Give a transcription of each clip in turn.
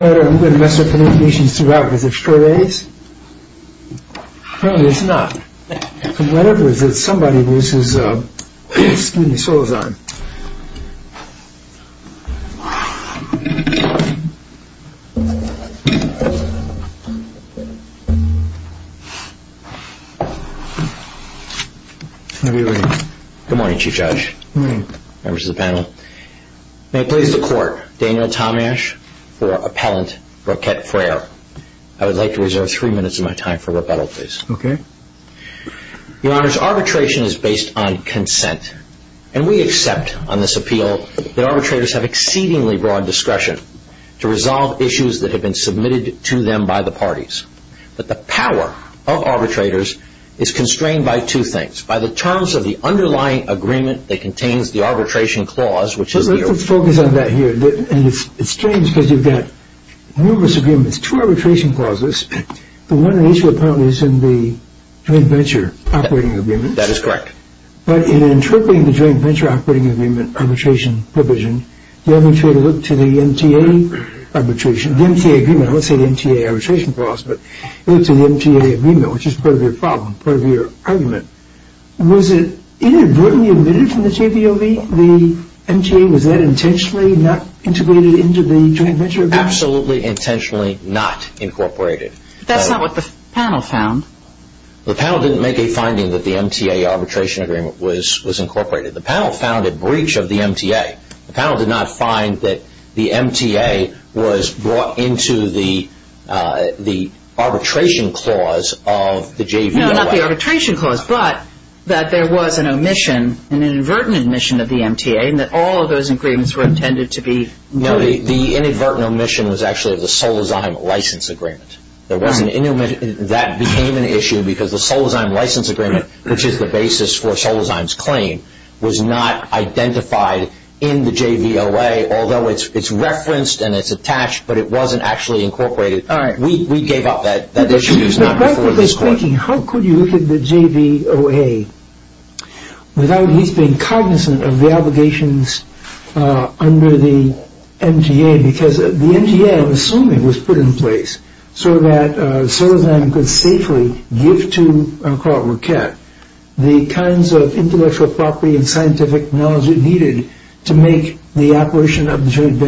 Good morning Chief Judge, members of the panel, may I please the court, Daniel Tomash for appellant Roquette Frere. I would like to reserve three minutes of my time for rebuttal please. Your Honor, arbitration is based on consent, and we accept on this appeal that arbitrators have exceedingly broad discretion to resolve issues that have been submitted to them by the parties. But the power of arbitrators is constrained by two things. By the terms of the underlying agreement that contains the arbitration clause, which is here. Let's focus on that here. It's strange because you've got numerous agreements, two arbitration clauses. The one in issue apparently is in the Joint Venture Operating Agreement. That is correct. But in interpreting the Joint Venture Operating Agreement arbitration provision, the arbitrator looked to the MTA arbitration, the MTA agreement, I won't say the MTA arbitration clause, but he looked to the MTA agreement, which is part of your problem, part of your argument. Was it inadvertently omitted from the JVOV? The MTA, was that intentionally not integrated into the Joint Venture Agreement? Absolutely intentionally not incorporated. That's not what the panel found. The panel didn't make a finding that the MTA arbitration agreement was incorporated. The panel found a breach of the MTA. The panel did not find that the MTA was brought into the arbitration clause of the JVOV. No, not the arbitration clause, but that there was an omission, an inadvertent omission of the MTA and that all of those agreements were intended to be… No, the inadvertent omission was actually of the Solozheim license agreement. That became an issue because the Solozheim license agreement, which is the basis for Solozheim's claim, was not identified in the JVOA, although it's referenced and it's attached, but it wasn't actually incorporated. All right. We gave up that issue. Now, that's what they're thinking. How could you look at the JVOA without at least being cognizant of the obligations under the MTA? Because the MTA, I'm assuming, was put in place so that Solozheim could safely give to, I'll call it Roquette, the kinds of intellectual property and scientific knowledge it needed to make the operation of the joint And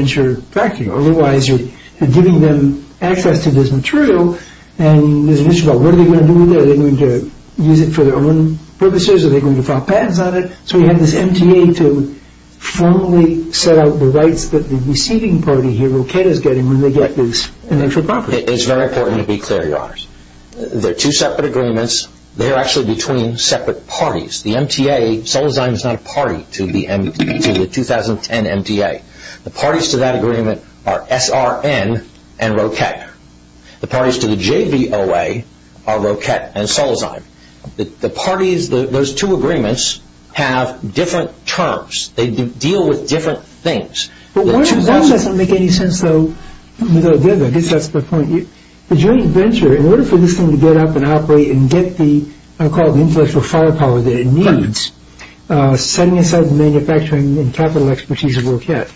there's an issue about what are they going to do with it? Are they going to use it for their own purposes? Are they going to file patents on it? So you have this MTA to formally set out the rights that the receiving party here, Roquette, is getting when they get this intellectual property. It's very important to be clear, Your Honors. They're two separate agreements. They're actually between separate parties. The MTA, Solozheim is not a party to the 2010 MTA. The parties to that agreement are SRN and Roquette. The parties to the JVOA are Roquette and Solozheim. The parties, those two agreements, have different terms. They deal with different things. But that doesn't make any sense, though. I guess that's the point. The joint venture, in order for this thing to get up and operate and get the, I'll call it the intellectual property or firepower that it needs, setting aside the manufacturing and capital expertise of Roquette,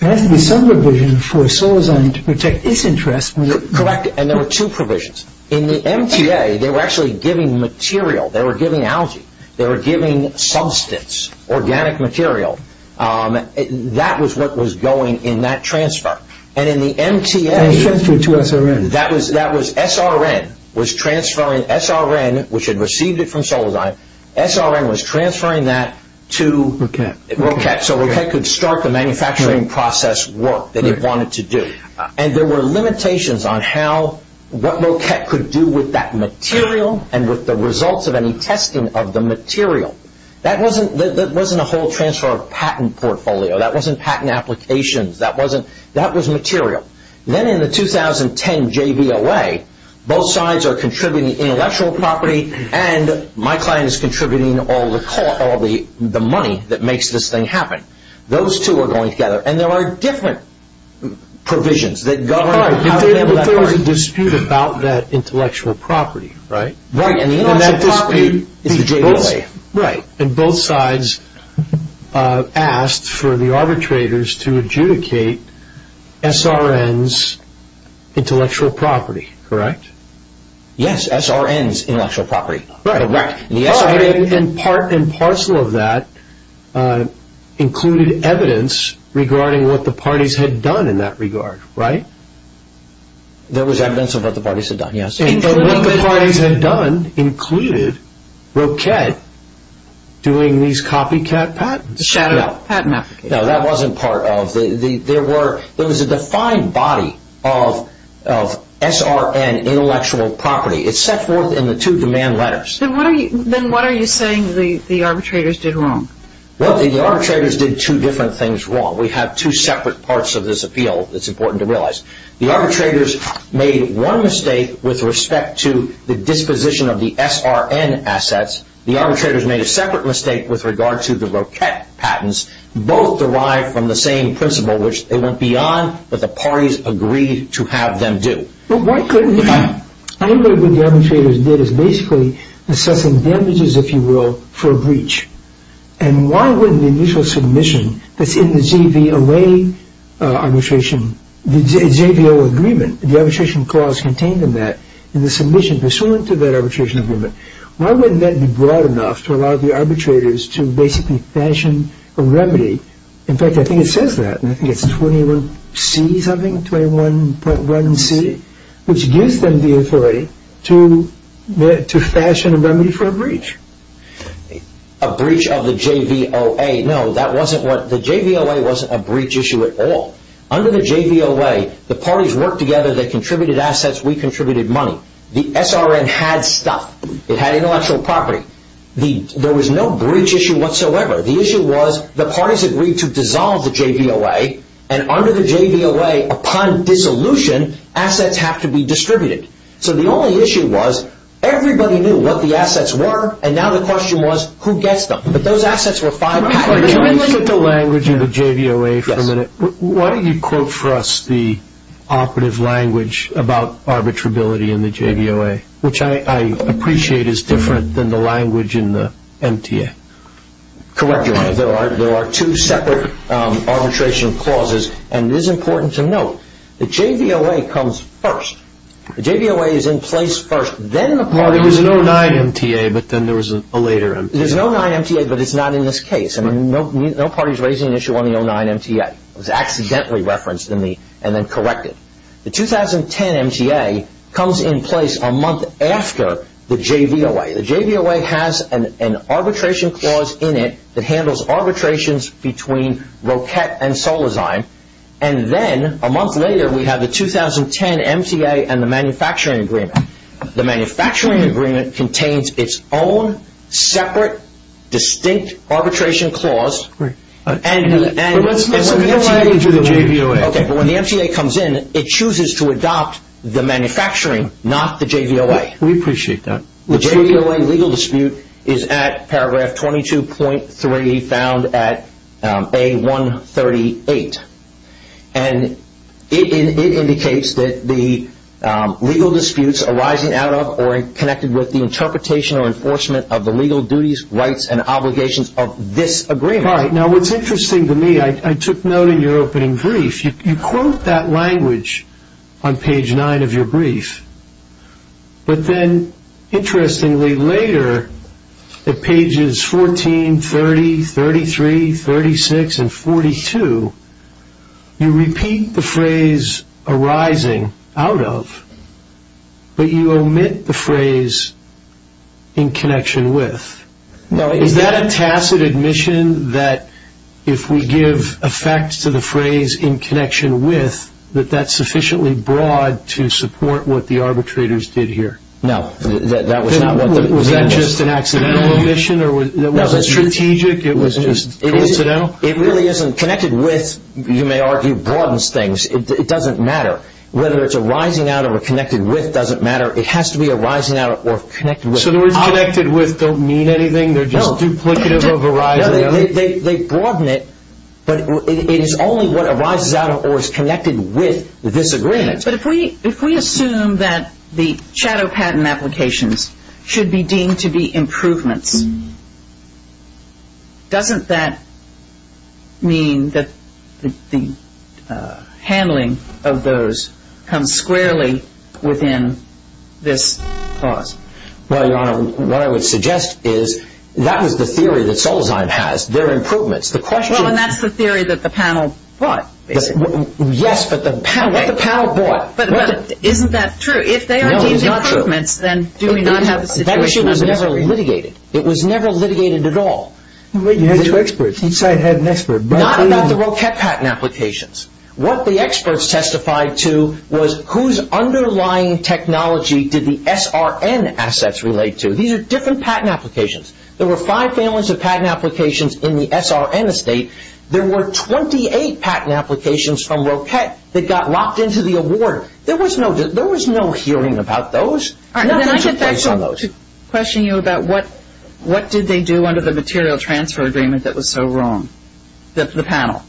there has to be some provision for Solozheim to protect its interests. Correct. And there were two provisions. In the MTA, they were actually giving material. They were giving algae. They were giving substance, organic material. That was what was going in that transfer. And in the MTA... That was transferred to SRN. SRN was transferring, SRN, which had received it from Solozheim, SRN was transferring that Roquette. Roquette, so Roquette could start the manufacturing process work that it wanted to do. And there were limitations on how, what Roquette could do with that material and with the results of any testing of the material. That wasn't a whole transfer of patent portfolio. That was material. Then in the 2010 JVOA, both sides are contributing intellectual property and my client is contributing all the money that makes this thing happen. Those two are going together. And there are different provisions that govern... But there was a dispute about that intellectual property, right? Right, and the intellectual property is the JVOA. Right, and both sides asked for the arbitrators to adjudicate SRN's intellectual property, correct? Yes, SRN's intellectual property. Right, and part and parcel of that included evidence regarding what the parties had done in that regard, right? There was evidence of what the parties had done, yes. And what the parties had done included Roquette doing these copycat patents? No, that wasn't part of... There was a defined body of SRN intellectual property. It's set forth in the two demand letters. Then what are you saying the arbitrators did wrong? Well, the arbitrators did two different things wrong. We have two separate parts of this with respect to the disposition of the SRN assets. The arbitrators made a separate mistake with regard to the Roquette patents. Both derived from the same principle, which they went beyond what the parties agreed to have them do. But why couldn't... I think what the arbitrators did is basically assessing damages, if you will, for a breach. And why wouldn't the initial submission that's in the JVOA agreement, the submission pursuant to that arbitration agreement, why wouldn't that be broad enough to allow the arbitrators to basically fashion a remedy? In fact, I think it says that. I think it's 21C something, 21.1C, which gives them the authority to fashion a remedy for a breach. A breach of the JVOA. No, that wasn't what... The JVOA wasn't a breach issue at all. Under the JVOA, the parties worked together, they contributed assets, we contributed money. The SRN had stuff. It had intellectual property. There was no breach issue whatsoever. The issue was, the parties agreed to dissolve the JVOA, and under the JVOA, upon dissolution, assets have to be distributed. So the only issue was, everybody knew what the assets were, and now the question was, who gets them? But those assets were five patents. Can I look at the language in the JVOA for a minute? Why don't you quote for us the operative language about arbitrability in the JVOA, which I appreciate is different than the language in the MTA? Correct, Your Honor. There are two separate arbitration clauses, and it is important to note, the JVOA comes first. The JVOA is in place first, then the parties... Well, there was an 09 MTA, but then there was a later MTA. There's an 09 MTA, but it's not in this case. I mean, no party's raising an issue on the 09 MTA. It was accidentally referenced, and then corrected. The 2010 MTA comes in place a month after the JVOA. The JVOA has an arbitration clause in it that handles arbitrations between Roquette and Solozine, and then, a month later, we have the 2010 MTA and the manufacturing agreement. The manufacturing agreement contains its own separate, distinct arbitration clause, and... But let's move the MTA to the JVOA. Okay, but when the MTA comes in, it chooses to adopt the manufacturing, not the JVOA. We appreciate that. The JVOA legal dispute is at paragraph 22.3, found at A138, and it indicates that the legal disputes arising out of or connected with the interpretation or enforcement of the legal duties, rights, and obligations of this agreement. All right. Now, what's interesting to me, I took note in your opening brief, you quote that language on page 9 of your brief, but then, interestingly, later, at pages 14, 30, 33, 36, and 42, you repeat the phrase arising out of, but you omit the phrase in connection with. Is that a tacit admission that if we give effect to the phrase in connection with, that that's sufficiently broad to support what the arbitrators did here? No, that was not what the... Was that just an accidental omission, or was it strategic? It was just coincidental? It really isn't. Connected with, you may argue, broadens things. It doesn't matter. Whether it's arising out of or connected with doesn't matter. It has to be arising out of or connected with. So the words connected with don't mean anything? They're just duplicative of arising out of? No, they broaden it, but it is only what arises out of or is connected with this agreement. But if we assume that the shadow patent applications should be deemed to be improvements, doesn't that mean that the handling of those comes squarely within this clause? Well, Your Honor, what I would suggest is that was the theory that Solzheim has. They're improvements. The question is... Well, and that's the theory that the panel bought, basically. Yes, but what the panel bought... But isn't that true? If they are deemed improvements, then do we not have a situation of misery? That issue was never litigated. It was never litigated at all. You had two experts. Each side had an expert. Not about the Roquette patent applications. What the experts testified to was whose underlying technology did the SRN assets relate to. These are different patent applications. There were five families of patent applications in the SRN estate. There were 28 patent applications from Roquette that got locked into the award. There was no hearing about those. Then I'd like to question you about what did they do under the material transfer agreement that was so wrong? The panel.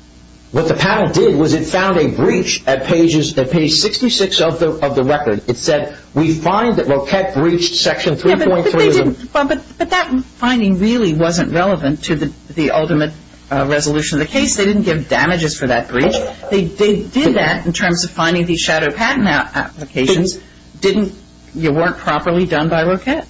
What the panel did was it found a breach at page 66 of the record. It said, we find that Roquette breached section 3.3... But that finding really wasn't relevant to the ultimate resolution of the case. They didn't give damages for that breach. They did that in terms of finding these shadow patent applications. They weren't properly done by Roquette.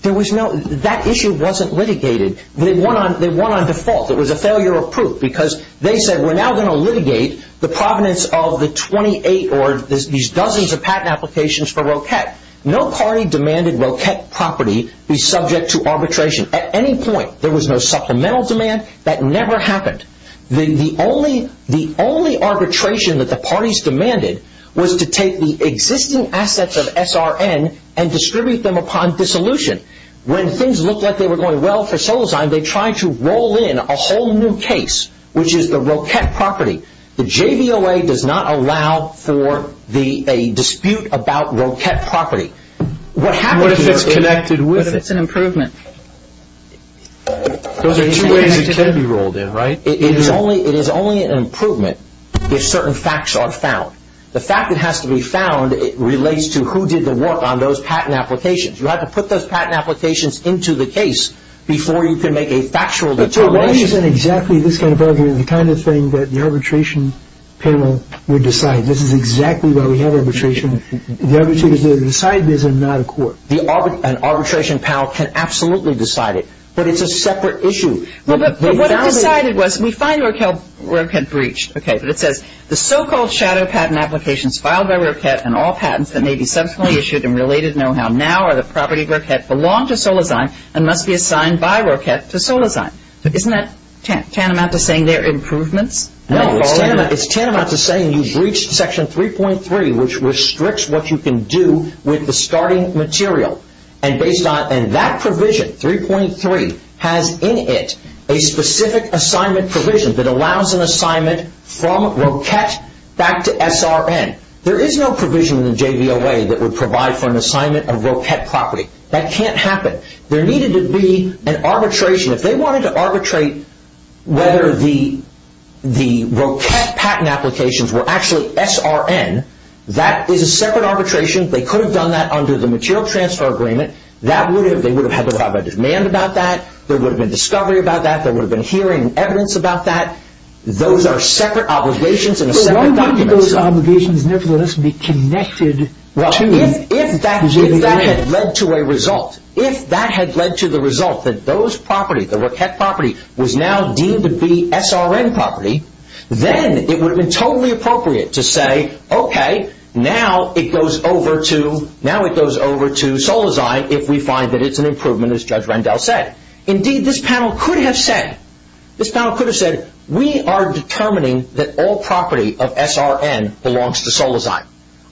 That issue wasn't litigated. They won on default. It was a failure of proof because they said, we're now going to litigate the provenance of the 28 or these dozens of patent applications for Roquette. No party demanded Roquette property be subject to arbitration at any point. There was no supplemental demand. That never happened. The only arbitration that the parties demanded was to take the existing assets of SRN and distribute them upon dissolution. When things looked like they were going well for Solozine, they tried to roll in a whole new case, which is the Roquette property. The JVOA does not allow for a dispute about Roquette property. What happens... What if it's connected with it? What if it's an improvement? Those are two ways it can be rolled in, right? It is only an improvement if certain facts are found. The fact that it has to be found relates to who did the work on those patent applications. You have to put those patent applications into the case before you can make a factual determination. So why isn't exactly this kind of argument the kind of thing that the arbitration panel would decide? This is exactly why we have arbitration. The arbitrators need to decide this and not a court. An arbitration panel can absolutely decide it, but it's a separate issue. But what it decided was we find Roquette breached, okay, but it says the so-called shadow patent applications filed by Roquette and all patents that may be subsequently issued in related know-how now are the property of Roquette, belong to Solazine, and must be assigned by Roquette to Solazine. Isn't that tantamount to saying they're improvements? No. It's tantamount to saying you've breached Section 3.3, which restricts what you can do with the starting material. And based on... And that provision, 3.3, has in it a specific assignment provision that allows an assignment from Roquette back to SRN. There is no provision in the JVOA that would provide for an assignment of Roquette property. That can't happen. There needed to be an arbitration. If they wanted to arbitrate whether the Roquette patent applications were actually SRN, that is a separate arbitration. They could have done that under the material transfer agreement. That would have... They would have had to have a demand about that. There would have been discovery about that. There would have been hearing and evidence about that. Those are separate obligations in a separate document. But why wouldn't those obligations nevertheless be connected to... Well, if that had led to a result, if that had led to the result that those properties, the Roquette property, was now deemed to be SRN property, then it would have been totally appropriate to say, okay, now it goes over to Solazine if we find that it's an improvement, as Judge Rendell said. Indeed, this panel could have said, this panel could have said, we are determining that all property of SRN belongs to Solazine.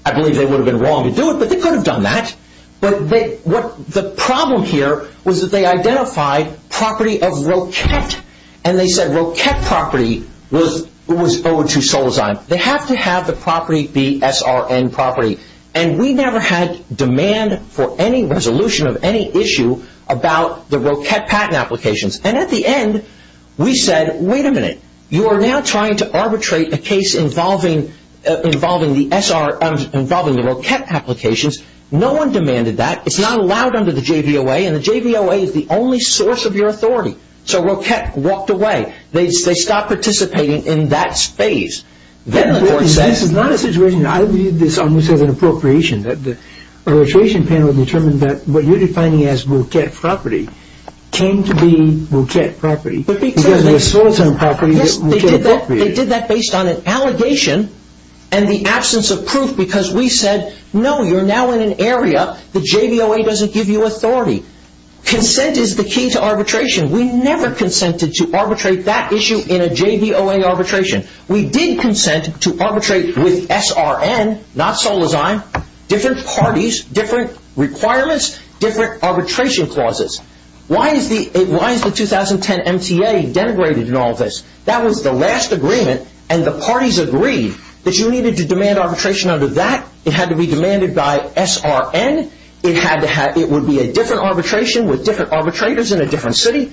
I believe they would have been wrong to do it, but they could have done that. But the problem here was that they identified property of Roquette, and they said Roquette property was owed to Solazine. They have to have the property be SRN property. And we never had demand for any resolution of any issue about the Roquette patent applications. You are now trying to arbitrate a case involving the Roquette applications. No one demanded that. It's not allowed under the JVOA, and the JVOA is the only source of your authority. So Roquette walked away. They stopped participating in that space. This is not a situation, I view this almost as an appropriation. The arbitration panel determined that what you're defining as Roquette property came to be Roquette property. Because of the Solazine property, Roquette property. Yes, they did that based on an allegation and the absence of proof, because we said, no, you're now in an area the JVOA doesn't give you authority. Consent is the key to arbitration. We never consented to arbitrate that issue in a JVOA arbitration. We did consent to arbitrate with SRN, not Solazine. Different parties, different requirements, different arbitration clauses. Why is the 2010 MTA denigrated in all this? That was the last agreement, and the parties agreed that you needed to demand arbitration under that. It had to be demanded by SRN. It would be a different arbitration with different arbitrators in a different city.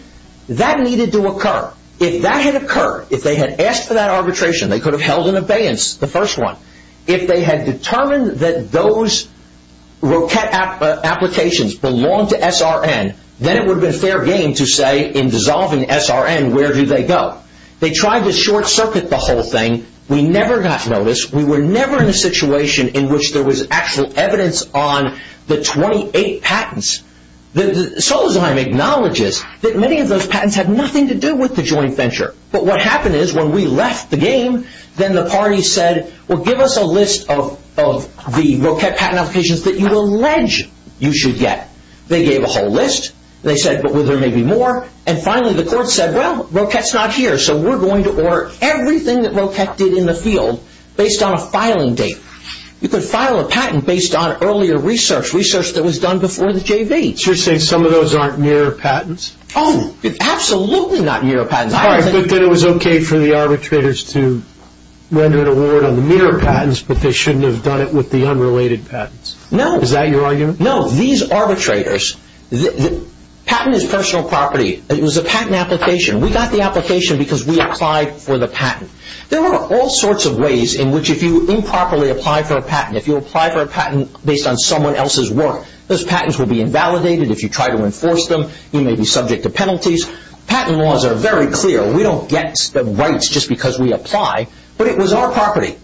That needed to occur. If that had occurred, if they had asked for that arbitration, they could have held an abeyance, the first one. If they had determined that those Roquette applications belonged to SRN, then it would have been fair game to say, in dissolving SRN, where do they go? They tried to short circuit the whole thing. We never got notice. We were never in a situation in which there was actual evidence on the 28 patents. Solazine acknowledges that many of those patents had nothing to do with the joint venture. But what happened is, when we left the game, then the parties said, well, give us a list of the Roquette patent applications that you allege you should get. They gave a whole list. They said, well, there may be more. And finally, the court said, well, Roquette's not here, so we're going to order everything that Roquette did in the field based on a filing date. You could file a patent based on earlier research, research that was done before the JV. So you're saying some of those aren't nearer patents? Oh, absolutely not nearer patents. All right, but then it was okay for the arbitrators to render an award on the nearer patents, but they shouldn't have done it with the unrelated patents. No. Is that your argument? No. These arbitrators, patent is personal property. It was a patent application. We got the application because we applied for the patent. There are all sorts of ways in which if you improperly apply for a patent, if you apply for a patent based on someone else's work, those patents will be invalidated. If you try to enforce them, you may be subject to penalties. Patent laws are very clear. We don't get the rights just because we apply, but it was our property.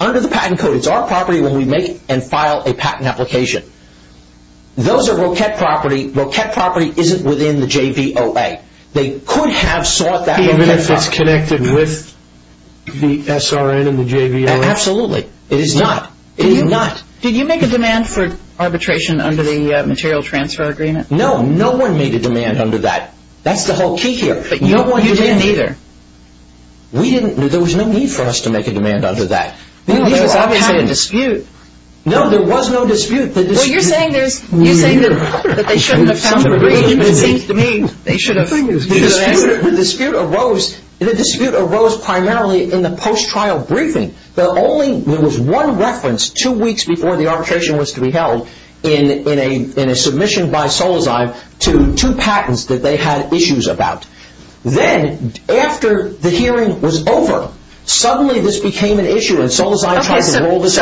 Under the patent code, it's our property when we make and file a patent application. Those are Roquette property. Roquette property isn't within the JVOA. They could have sought that Roquette property. Even if it's connected with the SRN and the JVOA? Absolutely. It is not. It is not. Did you make a demand for arbitration under the material transfer agreement? No. No one made a demand under that. That's the whole key here. You didn't either. There was no need for us to make a demand under that. There was obviously a dispute. No, there was no dispute. You're saying that they shouldn't have come to an agreement. The dispute arose primarily in the post-trial briefing. There was one reference two weeks before the arbitration was to be held in a submission by Solozay to two patents that they had issues about. Then, after the hearing was over, suddenly this became an issue and Solozay tried to roll this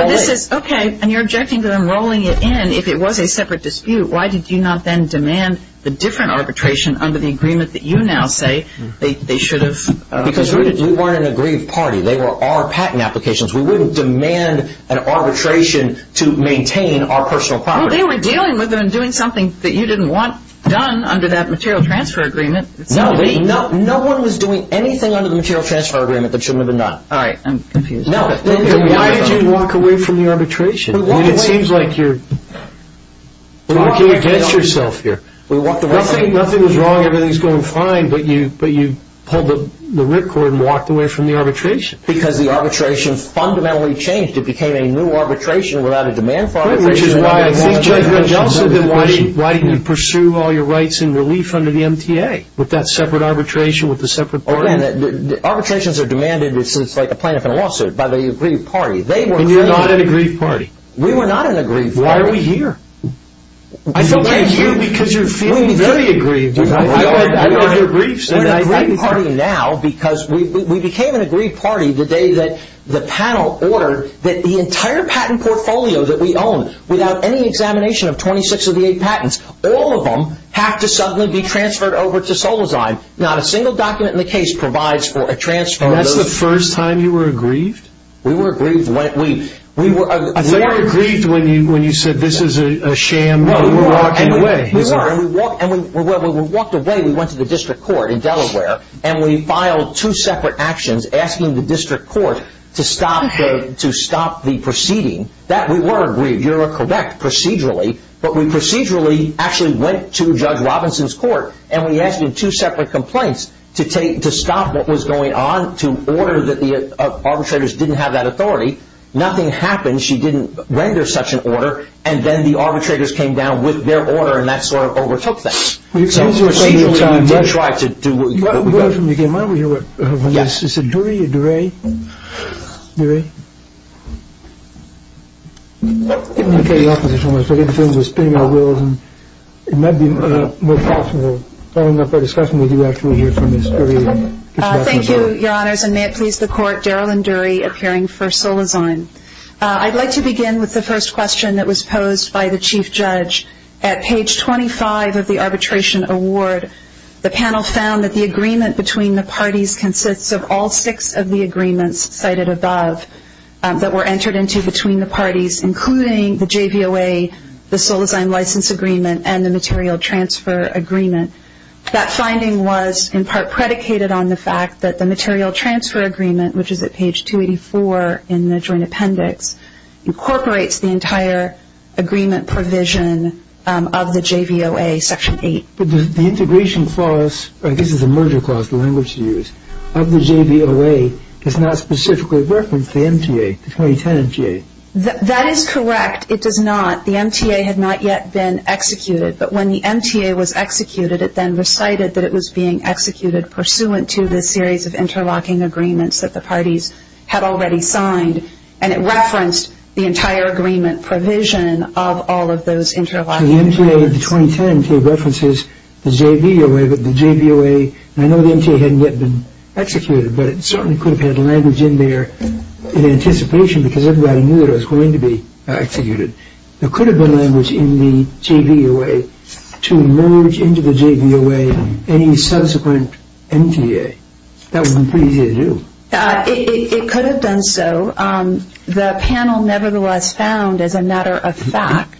out. Okay, and you're objecting to them rolling it in if it was a separate dispute. Why did you not then demand the different arbitration under the agreement that you now say they should have? Because we weren't an agreed party. They were our patent applications. We wouldn't demand an arbitration to maintain our personal property. Well, they were dealing with it and doing something that you didn't want done under that material transfer agreement. No, Lee. No one was doing anything under the material transfer agreement that shouldn't have been done. All right. I'm confused. Why did you walk away from the arbitration? It seems like you're looking against yourself here. Nothing was wrong. Everything was going fine. But you pulled the rip cord and walked away from the arbitration. Because the arbitration fundamentally changed. It became a new arbitration without a demand for arbitration. Which is why I think Judge Wendell said that you pursue all your rights in relief under the MTA with that separate arbitration with a separate party. Arbitrations are demanded. It's like a plaintiff in a lawsuit by the agreed party. And you're not an agreed party. We were not an agreed party. Why are we here? We're here because you're feeling very aggrieved. We're an agreed party now because we became an agreed party the day that the panel ordered that the entire patent portfolio that we own, without any examination of 26 of the 8 patents, all of them have to suddenly be transferred over to Solazine. Not a single document in the case provides for a transfer of those. And that's the first time you were aggrieved? We were aggrieved. I thought you were aggrieved when you said this is a sham walking away. We were. And when we walked away, we went to the district court in Delaware. And we filed two separate actions asking the district court to stop the proceeding. That we were aggrieved. You're correct procedurally. But we procedurally actually went to Judge Robinson's court and we asked him two separate complaints to stop what was going on, to order that the arbitrators didn't have that authority. Nothing happened. She didn't render such an order. And then the arbitrators came down with their order and that sort of overtook that. So procedurally, we did try to do what we got. We got it from you again. Am I over here? Yes. Is it Dury or Durey? Durey? I'm getting off of this almost. I get the feeling we're spinning our wheels and it might be more possible. Following up our discussion, we do actually hear from Ms. Durey. Thank you, Your Honors. And may it please the court, Daryl and Durey appearing for Solazine. I'd like to begin with the first question that was posed by the Chief Judge. At page 25 of the arbitration award, the panel found that the agreement between the parties consists of all six of the agreements cited above that were entered into between the parties, including the JVOA, the Solazine license agreement, and the material transfer agreement. That finding was in part predicated on the fact that the material transfer agreement, which is at page 284 in the joint appendix, incorporates the entire agreement provision of the JVOA section 8. But the integration clause, I guess it's a merger clause, the language you use, of the JVOA, does not specifically reference the MTA, the 2010 MTA. That is correct. It does not. The MTA had not yet been executed. But when the MTA was executed, it then recited that it was being executed pursuant to this series of interlocking agreements that the parties had already signed, and it referenced the entire agreement provision of all of those interlocking agreements. So the MTA, the 2010 MTA, references the JVOA, but the JVOA, and I know the MTA hadn't yet been executed, but it certainly could have had language in there in anticipation because everybody knew it was going to be executed. There could have been language in the JVOA to merge into the JVOA any subsequent MTA. That would have been pretty easy to do. It could have done so. The panel nevertheless found, as a matter of fact,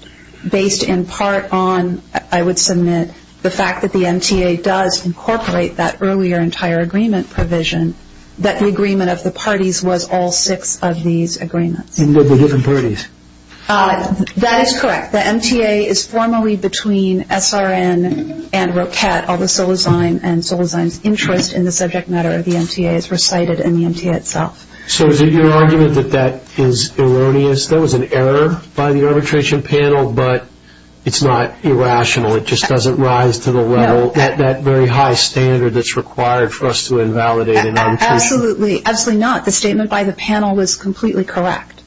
based in part on, I would submit, the fact that the MTA does incorporate that earlier entire agreement provision, that the agreement of the parties was all six of these agreements. In the different parties. That is correct. The MTA is formally between SRN and ROCAT. All the Solozine and Solozine's interest in the subject matter of the MTA is recited in the MTA itself. So is it your argument that that is erroneous? That was an error by the arbitration panel, but it's not irrational. It just doesn't rise to the level, that very high standard that's required for us to invalidate an arbitration. Absolutely. Absolutely not. The statement by the panel was completely correct,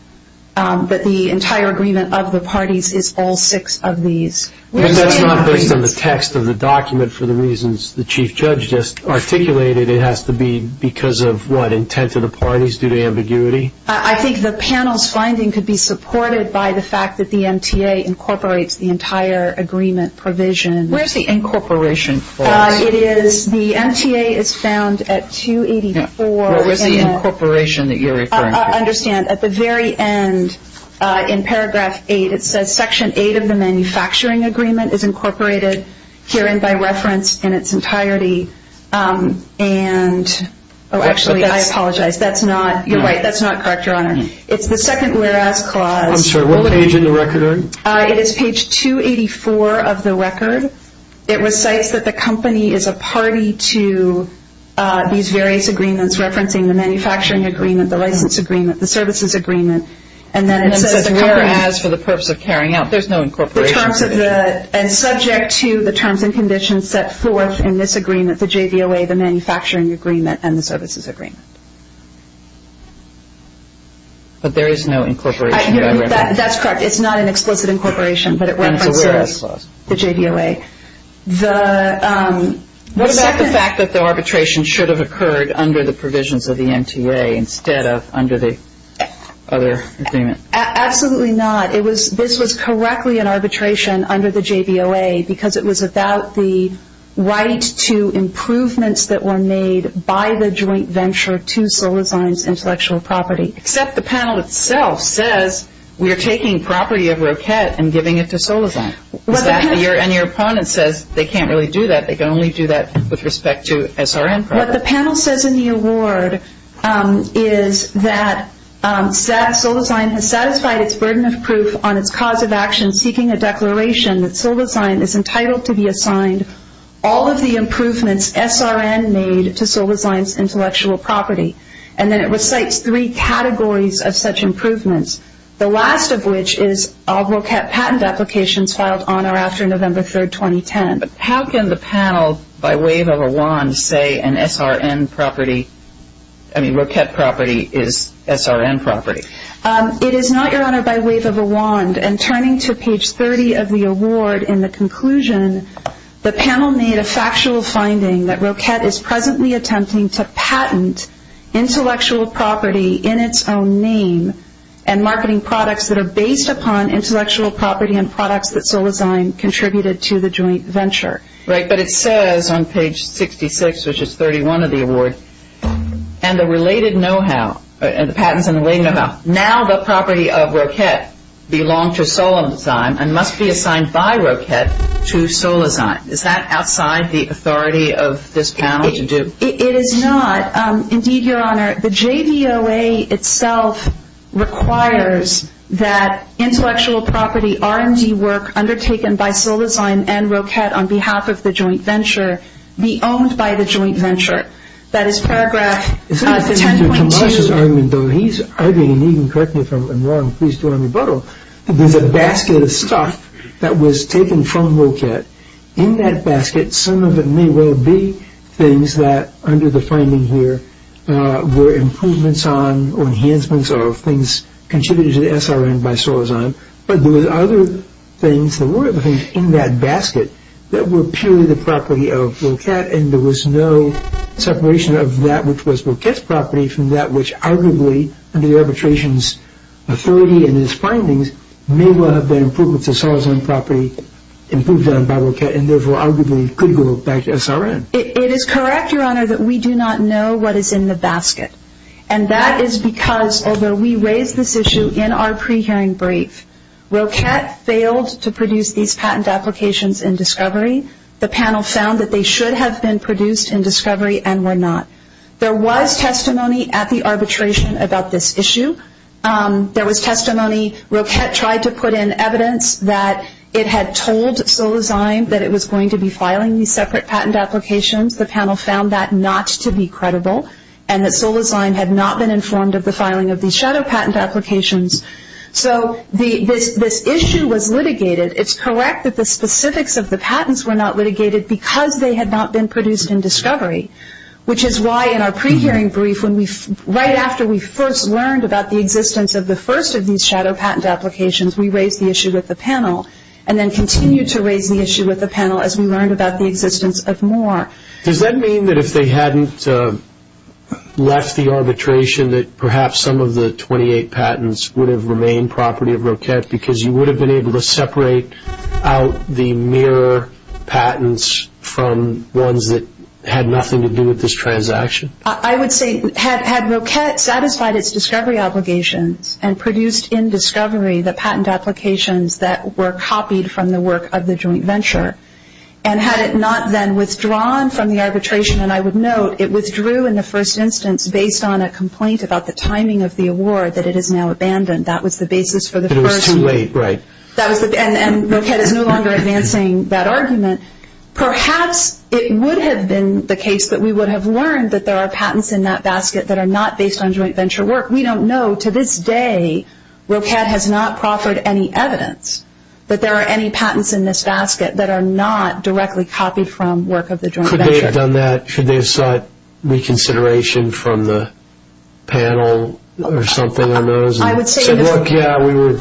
that the entire agreement of the parties is all six of these. That's not based on the text of the document for the reasons the Chief Judge just articulated. It has to be because of, what, intent of the parties due to ambiguity? I think the panel's finding could be supported by the fact that the MTA incorporates the entire agreement provision. Where's the incorporation clause? It is, the MTA is found at 284. What was the incorporation that you're referring to? I understand. At the very end, in paragraph 8, it says, Section 8 of the manufacturing agreement is incorporated herein by reference in its entirety. And, oh, actually, I apologize. That's not, you're right, that's not correct, Your Honor. It's the second whereas clause. I'm sorry, what page in the record are you? It is page 284 of the record. It recites that the company is a party to these various agreements referencing the manufacturing agreement, the license agreement, the services agreement, and then it says the company And then it says whereas for the purpose of carrying out. There's no incorporation. The terms of the, and subject to the terms and conditions set forth in this agreement, the JVOA, the manufacturing agreement, and the services agreement. But there is no incorporation. That's correct. It's not an explicit incorporation, but it references the JVOA. What about the fact that the arbitration should have occurred under the provisions of the MTA instead of under the other agreement? Absolutely not. This was correctly an arbitration under the JVOA because it was about the right to improvements that were made by the joint venture to Solizine's intellectual property. Except the panel itself says we are taking property of Roquette and giving it to Solizine. And your opponent says they can't really do that. They can only do that with respect to SRN property. What the panel says in the award is that Solizine has satisfied its burden of proof on its cause of action seeking a declaration that Solizine is entitled to be assigned all of the improvements SRN made to Solizine's intellectual property. And then it recites three categories of such improvements, the last of which is all Roquette patent applications filed on or after November 3, 2010. But how can the panel by wave of a wand say an SRN property, I mean Roquette property is SRN property? It is not, Your Honor, by wave of a wand. And turning to page 30 of the award in the conclusion, the panel made a factual finding that Roquette is presently attempting to patent intellectual property in its own name and marketing products that are based upon intellectual property and products that Solizine contributed to the joint venture. Right, but it says on page 66, which is 31 of the award, and the related know-how, the patents and the related know-how, now the property of Roquette belong to Solizine and must be assigned by Roquette to Solizine. Is that outside the authority of this panel to do? It is not. Indeed, Your Honor, the JVOA itself requires that intellectual property R&D work undertaken by Solizine and Roquette on behalf of the joint venture be owned by the joint venture. That is paragraph 10.2. He's arguing, and you can correct me if I'm wrong, please do a rebuttal. There's a basket of stuff that was taken from Roquette. In that basket, some of it may well be things that, under the finding here, were improvements on or enhancements of things contributed to the SRN by Solizine, but there were other things that were in that basket that were purely the property of Roquette and there was no separation of that which was Roquette's property from that which, arguably, under the arbitration's authority and his findings, may well have been improvements to Solizine property improved on by Roquette and, therefore, arguably could go back to SRN. It is correct, Your Honor, that we do not know what is in the basket, and that is because, although we raised this issue in our pre-hearing brief, Roquette failed to produce these patent applications in discovery. The panel found that they should have been produced in discovery and were not. There was testimony at the arbitration about this issue. There was testimony Roquette tried to put in evidence that it had told Solizine that it was going to be filing these separate patent applications. The panel found that not to be credible and that Solizine had not been informed of the filing of these shadow patent applications. So this issue was litigated. It is correct that the specifics of the patents were not litigated because they had not been produced in discovery, which is why in our pre-hearing brief, right after we first learned about the existence of the first of these shadow patent applications, we raised the issue with the panel and then continued to raise the issue with the panel as we learned about the existence of more. Does that mean that if they hadn't left the arbitration that perhaps some of the 28 patents would have remained property of Roquette because you would have been able to separate out the mirror patents from ones that had nothing to do with this transaction? I would say had Roquette satisfied its discovery obligations and produced in discovery the patent applications that were copied from the work of the joint venture and had it not then withdrawn from the arbitration, and I would note it withdrew in the first instance based on a complaint about the timing of the award that it is now abandoned. That was the basis for the first. It was too late, right. And Roquette is no longer advancing that argument. Perhaps it would have been the case that we would have learned that there are patents in that basket that are not based on joint venture work. We don't know. To this day, Roquette has not proffered any evidence that there are any patents in this basket that are not directly copied from work of the joint venture. Could they have done that? Should they have sought reconsideration from the panel or something on those? I would say Yeah,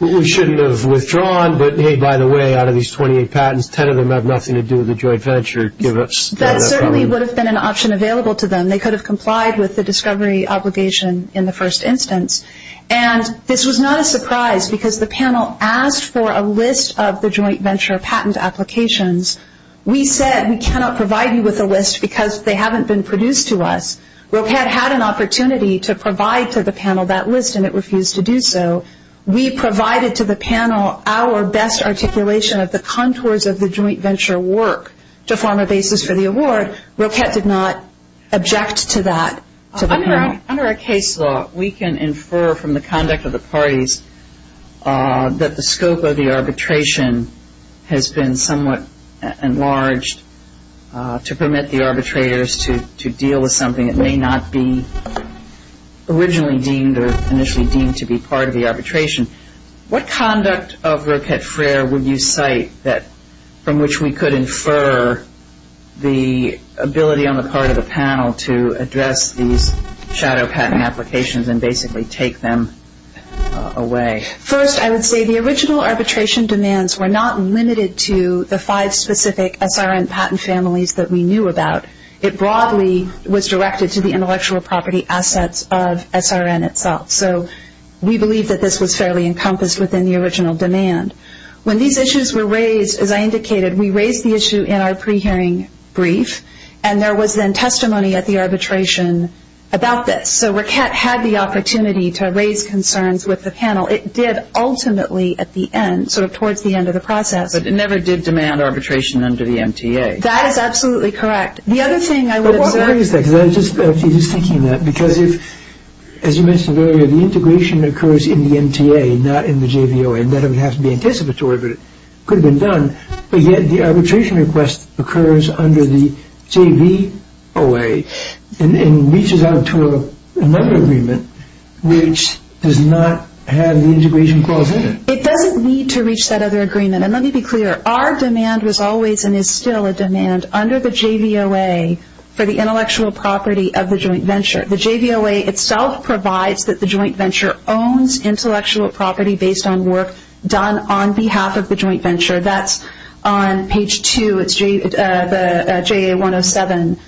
we shouldn't have withdrawn, but hey, by the way, out of these 28 patents, 10 of them have nothing to do with the joint venture. That certainly would have been an option available to them. They could have complied with the discovery obligation in the first instance, and this was not a surprise because the panel asked for a list of the joint venture patent applications. We said we cannot provide you with a list because they haven't been produced to us. Roquette had an opportunity to provide to the panel that list, and it refused to do so. We provided to the panel our best articulation of the contours of the joint venture work to form a basis for the award. Roquette did not object to that to the panel. Under a case law, we can infer from the conduct of the parties that the scope of the arbitration has been somewhat enlarged to permit the arbitrators to deal with something that may not be originally deemed or initially deemed to be part of the arbitration. What conduct of Roquette Frere would you cite from which we could infer the ability on the part of the panel to address these shadow patent applications and basically take them away? First, I would say the original arbitration demands were not limited to the five specific SRN patent families that we knew about. It broadly was directed to the intellectual property assets of SRN itself. So we believe that this was fairly encompassed within the original demand. When these issues were raised, as I indicated, we raised the issue in our pre-hearing brief, and there was then testimony at the arbitration about this. So Roquette had the opportunity to raise concerns with the panel. It did ultimately at the end, sort of towards the end of the process. But it never did demand arbitration under the MTA. That is absolutely correct. The other thing I would observe... But why is that? Because I was just thinking that. Because if, as you mentioned earlier, the integration occurs in the MTA, not in the JVOA, and that would have to be anticipatory, but it could have been done. But yet the arbitration request occurs under the JVOA and reaches out to another agreement which does not have the integration clause in it. It doesn't need to reach that other agreement. And let me be clear. Our demand was always and is still a demand under the JVOA for the intellectual property of the joint venture. The JVOA itself provides that the joint venture owns intellectual property based on work done on behalf of the joint venture. That's on page 2. It's JA107,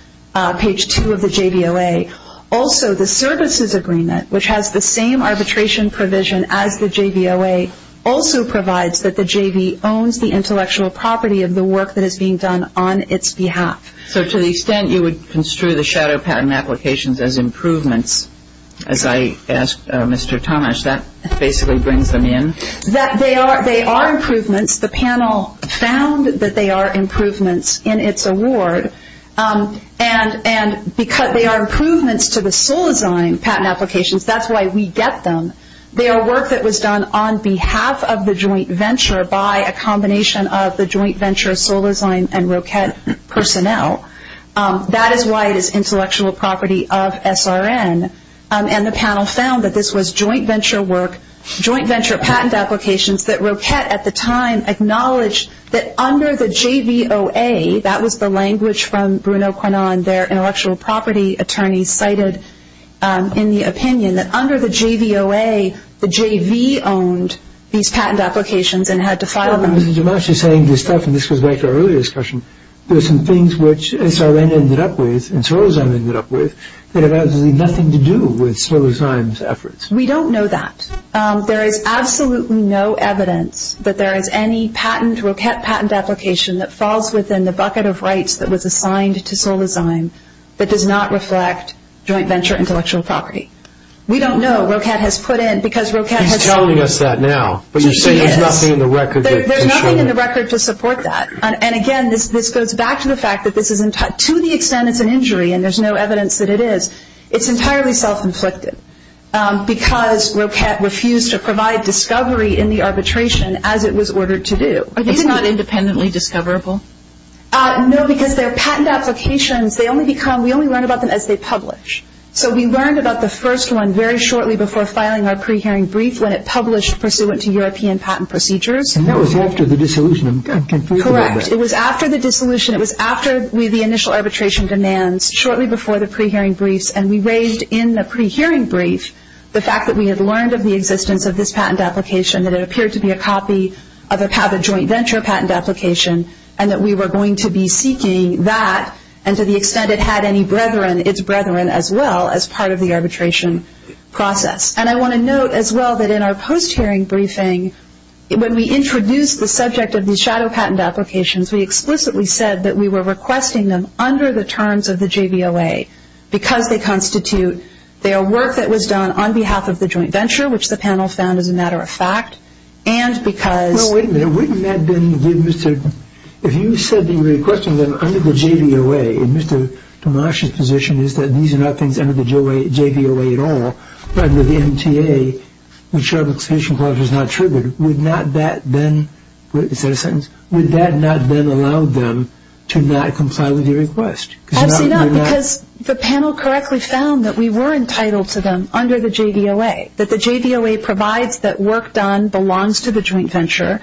page 2 of the JVOA. Also, the services agreement, which has the same arbitration provision as the JVOA, also provides that the JV owns the intellectual property of the work that is being done on its behalf. So to the extent you would construe the shadow patent applications as improvements, as I asked Mr. Tomasz, that basically brings them in? They are improvements. The panel found that they are improvements in its award. And because they are improvements to the sole design patent applications, that's why we get them. They are work that was done on behalf of the joint venture by a combination of the joint venture sole design and ROCET personnel. That is why it is intellectual property of SRN. And the panel found that this was joint venture work, joint venture patent applications, that ROCET at the time acknowledged that under the JVOA, that was the language from Bruno Quinan, and their intellectual property attorney cited in the opinion that under the JVOA, the JV owned these patent applications and had to file them. But Mrs. Tomasz is saying this stuff, and this goes back to our earlier discussion, there are some things which SRN ended up with, and sole design ended up with, that have absolutely nothing to do with sole design's efforts. We don't know that. There is absolutely no evidence that there is any patent, ROCET patent application, that falls within the bucket of rights that was assigned to sole design that does not reflect joint venture intellectual property. We don't know. ROCET has put in, because ROCET has He's telling us that now, but you're saying there's nothing in the record to support it. There's nothing in the record to support that. And again, this goes back to the fact that this is, to the extent it's an injury, and there's no evidence that it is, it's entirely self-inflicted, because ROCET refused to provide discovery in the arbitration as it was ordered to do. It's not independently discoverable? No, because their patent applications, they only become, we only learn about them as they publish. So we learned about the first one very shortly before filing our pre-hearing brief when it published pursuant to European patent procedures. And that was after the dissolution. Correct. It was after the dissolution. It was after the initial arbitration demands, shortly before the pre-hearing briefs, and we raised in the pre-hearing brief the fact that we had learned of the existence of this patent application, that it appeared to be a copy of a joint venture patent application, and that we were going to be seeking that, and to the extent it had any brethren, its brethren as well, as part of the arbitration process. And I want to note as well that in our post-hearing briefing, when we introduced the subject of these shadow patent applications, we explicitly said that we were requesting them under the terms of the JVOA, because they constitute their work that was done on behalf of the joint venture, which the panel found as a matter of fact, and because... Well, wait a minute. Wouldn't that then give Mr.... If you said that you were requesting them under the JVOA, and Mr. Tomasch's position is that these are not things under the JVOA at all, under the MTA, which shadow application clause was not triggered, would not that then... wait, is that a sentence? Would that not then allow them to not comply with your request? Absolutely not, because the panel correctly found that we were entitled to them under the JVOA, that the JVOA provides that work done belongs to the joint venture.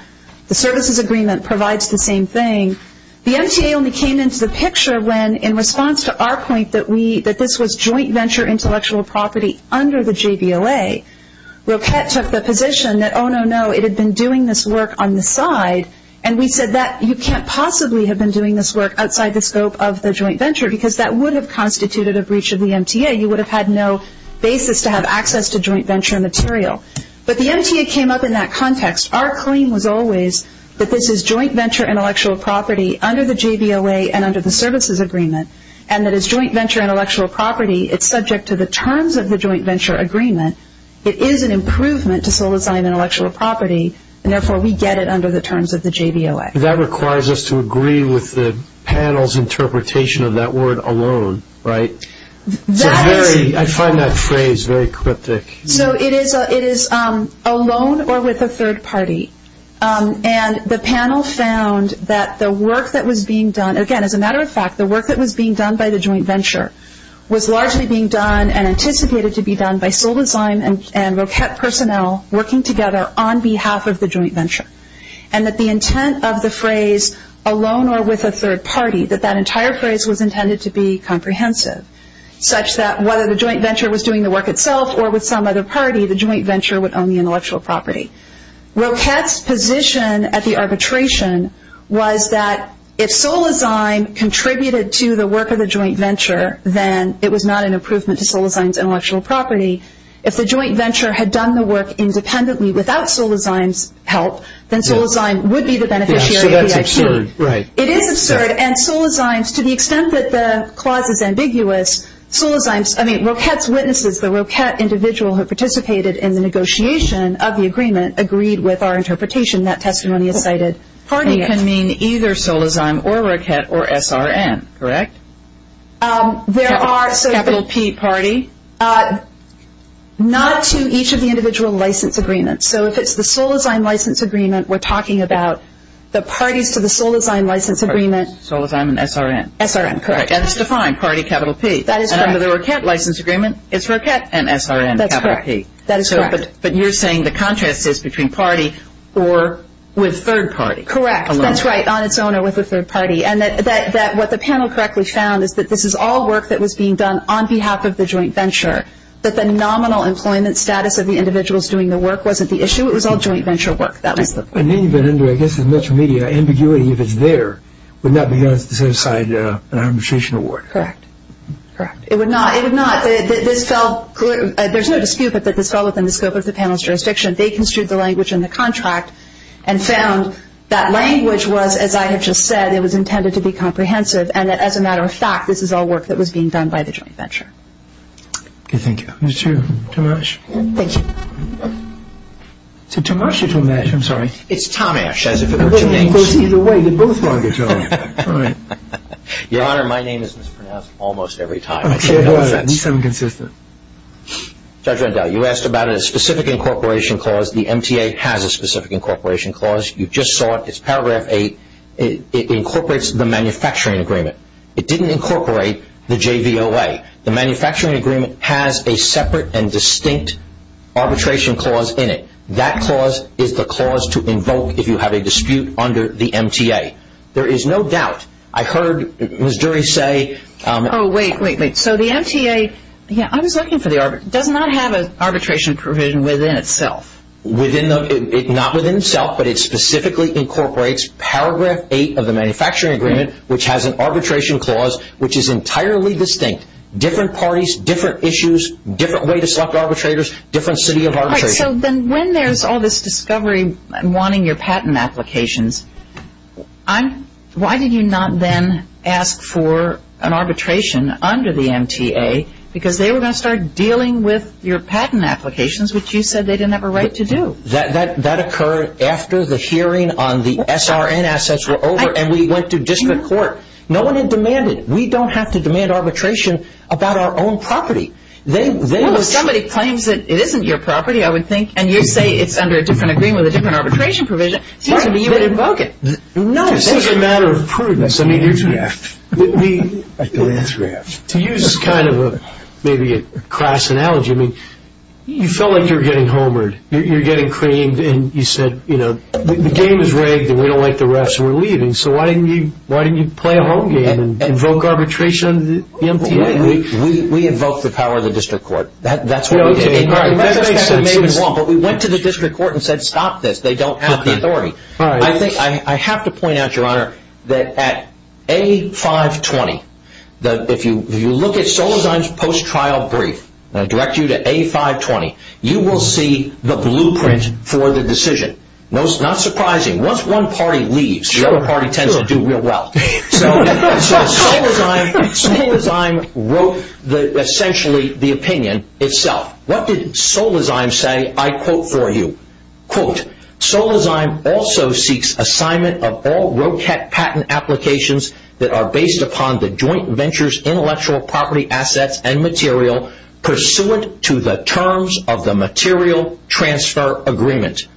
The services agreement provides the same thing. The MTA only came into the picture when, in response to our point that we, that this was joint venture intellectual property under the JVOA, Roquette took the position that, oh, no, no, it had been doing this work on the side, and we said that you can't possibly have been doing this work outside the scope of the joint venture, because that would have constituted a breach of the MTA. You would have had no basis to have access to joint venture material. But the MTA came up in that context. Our claim was always that this is joint venture intellectual property under the JVOA and under the services agreement, and that it's joint venture intellectual property. It's subject to the terms of the joint venture agreement. It is an improvement to sole design intellectual property, and therefore we get it under the terms of the JVOA. That requires us to agree with the panel's interpretation of that word alone, right? I find that phrase very cryptic. So it is alone or with a third party, and the panel found that the work that was being done, again, as a matter of fact, the work that was being done by the joint venture was largely being done and anticipated to be done by sole design and Roquette personnel working together on behalf of the joint venture, and that the intent of the phrase alone or with a third party, that that entire phrase was intended to be comprehensive, such that whether the joint venture was doing the work itself or with some other party, the joint venture would own the intellectual property. Roquette's position at the arbitration was that if sole design contributed to the work of the joint venture, then it was not an improvement to sole design's intellectual property. If the joint venture had done the work independently without sole design's help, then sole design would be the beneficiary of the IP. So that's absurd, right. It is absurd, and sole design's, to the extent that the clause is ambiguous, Roquette's witnesses, the Roquette individual who participated in the negotiation of the agreement, agreed with our interpretation that testimony is cited. Party can mean either sole design or Roquette or SRN, correct? There are. Capital P party? Not to each of the individual license agreements. So if it's the sole design license agreement, we're talking about the parties to the sole design license agreement. Sole design and SRN. SRN, correct. And it's defined, party capital P. That is correct. And under the Roquette license agreement, it's Roquette and SRN capital P. That is correct. But you're saying the contrast is between party or with third party. Correct. That's right, on its own or with a third party. And what the panel correctly found is that this is all work that was being done on behalf of the joint venture, that the nominal employment status of the individuals doing the work wasn't the issue. It was all joint venture work. That was the point. And then you get into, I guess, as much media ambiguity if it's there, would not be on the same side in our administration award. Correct. Correct. It would not. It would not. There's no dispute that this fell within the scope of the panel's jurisdiction. They construed the language in the contract and found that language was, as I have just said, it was intended to be comprehensive and that as a matter of fact, this is all work that was being done by the joint venture. Okay. Thank you. Mr. Tomash. Thank you. Is it Tomash or Tomash? I'm sorry. It's Tomash, as if it were two names. It goes either way. They're both wrong. Your Honor, my name is mispronounced almost every time. Okay. At least I'm consistent. Judge Rendell, you asked about a specific incorporation clause. The MTA has a specific incorporation clause. You just saw it. It's paragraph 8. It incorporates the manufacturing agreement. It didn't incorporate the JVOA. The manufacturing agreement has a separate and distinct arbitration clause in it. That clause is the clause to invoke if you have a dispute under the MTA. There is no doubt. I heard Ms. Dury say – Oh, wait, wait, wait. So the MTA – yeah, I was looking for the – does not have an arbitration provision within itself. Within the – not within itself, but it specifically incorporates paragraph 8 of the manufacturing agreement, which has an arbitration clause which is entirely distinct. Different parties, different issues, different way to select arbitrators, different city of arbitration. All right. So then when there's all this discovery and wanting your patent applications, why did you not then ask for an arbitration under the MTA because they were going to start dealing with your patent applications, which you said they didn't have a right to do? That occurred after the hearing on the SRN assets were over and we went to district court. No one had demanded. We don't have to demand arbitration about our own property. Well, if somebody claims that it isn't your property, I would think, and you say it's under a different agreement with a different arbitration provision, it seems to me you would invoke it. No. This is a matter of prudence. I mean, to use kind of maybe a crass analogy, I mean, you felt like you were getting homered. You were getting creamed and you said, you know, the game is rigged and we don't like the refs and we're leaving, so why didn't you play a home game and invoke arbitration under the MTA? We invoked the power of the district court. That's what we did. All right. That makes sense. But we went to the district court and said stop this. They don't have the authority. All right. I have to point out, Your Honor, that at A520, if you look at Solozheim's post-trial brief, and I direct you to A520, you will see the blueprint for the decision. Not surprising. Once one party leaves, the other party tends to do real well. So, Solozheim wrote essentially the opinion itself. What did Solozheim say, I quote for you, quote, Solozheim also seeks assignment of all ROCAT patent applications that are based upon the joint venture's intellectual property assets and material pursuant to the terms of the material transfer agreement.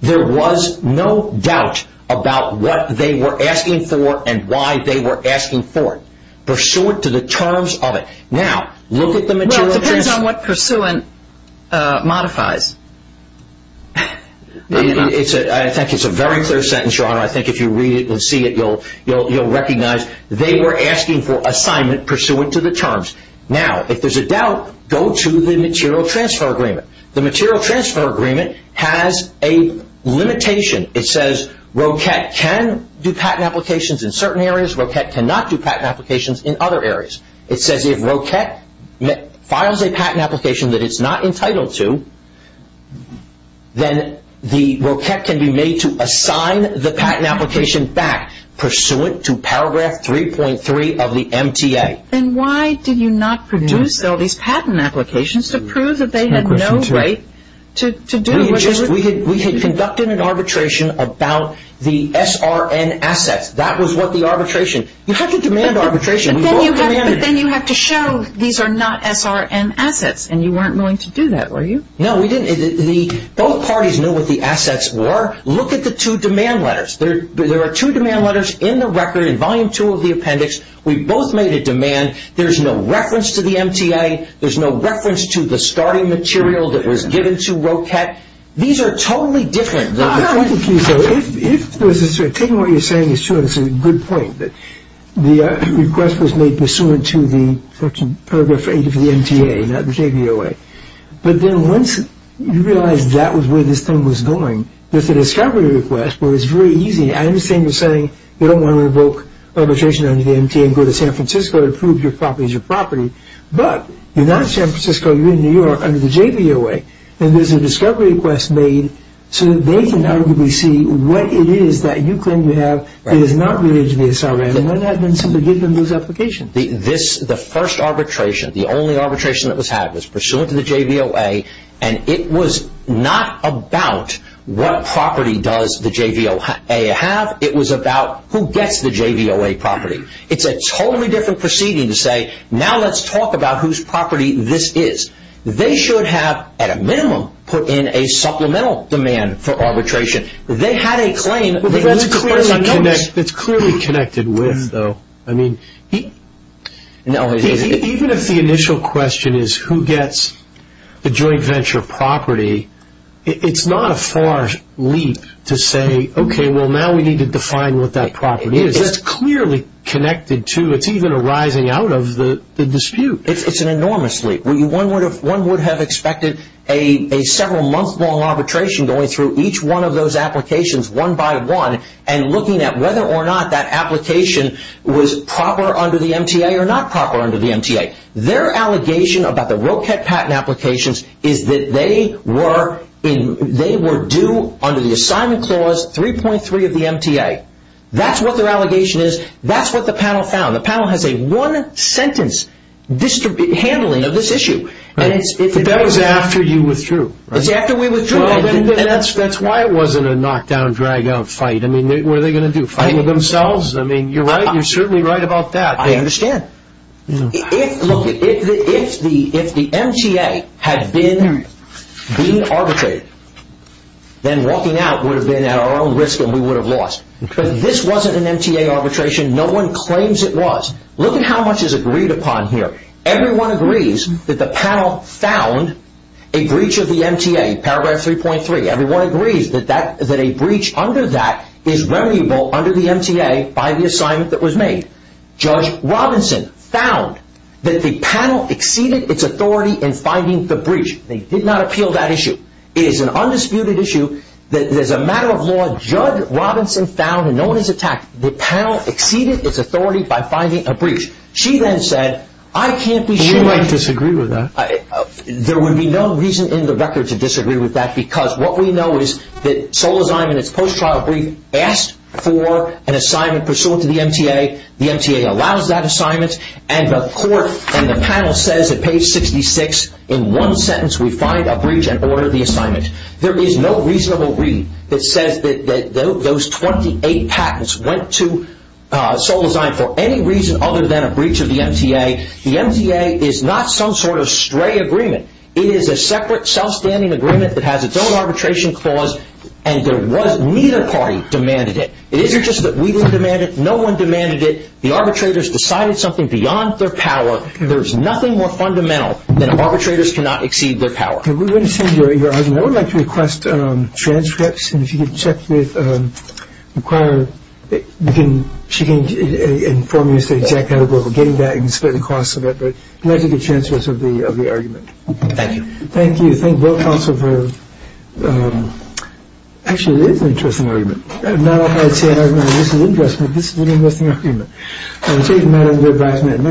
There was no doubt about what they were asking for and why they were asking for it. Pursuant to the terms of it. Well, it depends on what pursuant modifies. I think it's a very clear sentence, Your Honor. I think if you read it and see it, you'll recognize they were asking for assignment pursuant to the terms. Now, if there's a doubt, go to the material transfer agreement. The material transfer agreement has a limitation. It says ROCAT can do patent applications in certain areas. ROCAT cannot do patent applications in other areas. It says if ROCAT files a patent application that it's not entitled to, then the ROCAT can be made to assign the patent application back pursuant to paragraph 3.3 of the MTA. Then why did you not produce all these patent applications to prove that they had no right to do what they were doing? We had conducted an arbitration about the SRN assets. That was what the arbitration, you have to demand arbitration. But then you have to show these are not SRN assets, and you weren't willing to do that, were you? No, we didn't. Both parties knew what the assets were. Look at the two demand letters. There are two demand letters in the record in Volume 2 of the appendix. We both made a demand. There's no reference to the MTA. There's no reference to the starting material that was given to ROCAT. These are totally different. I don't think you should. If this is true, taking what you're saying is true, it's a good point that the request was made pursuant to the paragraph 8 of the MTA, not the JVOA. But then once you realize that was where this thing was going, there's a discovery request where it's very easy. I understand you're saying you don't want to revoke arbitration under the MTA and go to San Francisco to prove your property is your property, but you're not in San Francisco. You're in New York under the JVOA, and there's a discovery request made so that they can arguably see what it is that you claim you have that is not related to the SRA, and then somebody gives them those applications. The first arbitration, the only arbitration that was had, was pursuant to the JVOA, and it was not about what property does the JVOA have. It was about who gets the JVOA property. It's a totally different proceeding to say, now let's talk about whose property this is. They should have, at a minimum, put in a supplemental demand for arbitration. They had a claim. It's clearly connected with, though. Even if the initial question is who gets the joint venture property, it's not a far leap to say, okay, well now we need to define what that property is. It's clearly connected to, it's even arising out of the dispute. It's an enormous leap. One would have expected a several month long arbitration going through each one of those applications one by one and looking at whether or not that application was proper under the MTA or not proper under the MTA. Their allegation about the Roket patent applications is that they were due under the assignment clause 3.3 of the MTA. That's what their allegation is. That's what the panel found. The panel has a one sentence handling of this issue. That was after you withdrew. It's after we withdrew. That's why it wasn't a knock down, drag out fight. What are they going to do, fight with themselves? You're certainly right about that. I understand. If the MTA had been being arbitrated, then walking out would have been at our own risk and we would have lost. This wasn't an MTA arbitration. No one claims it was. Look at how much is agreed upon here. Everyone agrees that the panel found a breach of the MTA, paragraph 3.3. Everyone agrees that a breach under that is remediable under the MTA by the assignment that was made. Judge Robinson found that the panel exceeded its authority in finding the breach. They did not appeal that issue. It is an undisputed issue. There's a matter of law. Judge Robinson found, and no one has attacked, the panel exceeded its authority by finding a breach. She then said, I can't be sure. You might disagree with that. There would be no reason in the record to disagree with that because what we know is that Solazine, in its post-trial brief, asked for an assignment pursuant to the MTA. The MTA allows that assignment. And the panel says at page 66, in one sentence, we find a breach and order the assignment. There is no reasonable read that says that those 28 patents went to Solazine for any reason other than a breach of the MTA. The MTA is not some sort of stray agreement. It is a separate, self-standing agreement that has its own arbitration clause, and neither party demanded it. It isn't just that we didn't demand it. No one demanded it. The arbitrators decided something beyond their power. There is nothing more fundamental than arbitrators cannot exceed their power. I would like to request transcripts. And if you can check with the acquirer, she can inform you as to exactly how to go about getting that, and you can split the costs of it. But I would like to get transcripts of the argument. Thank you. Thank you. Thank both counsels. Actually, it is an interesting argument. Not only is it an argument, this is an investment. This is an interesting argument. I will take the matter under advisement.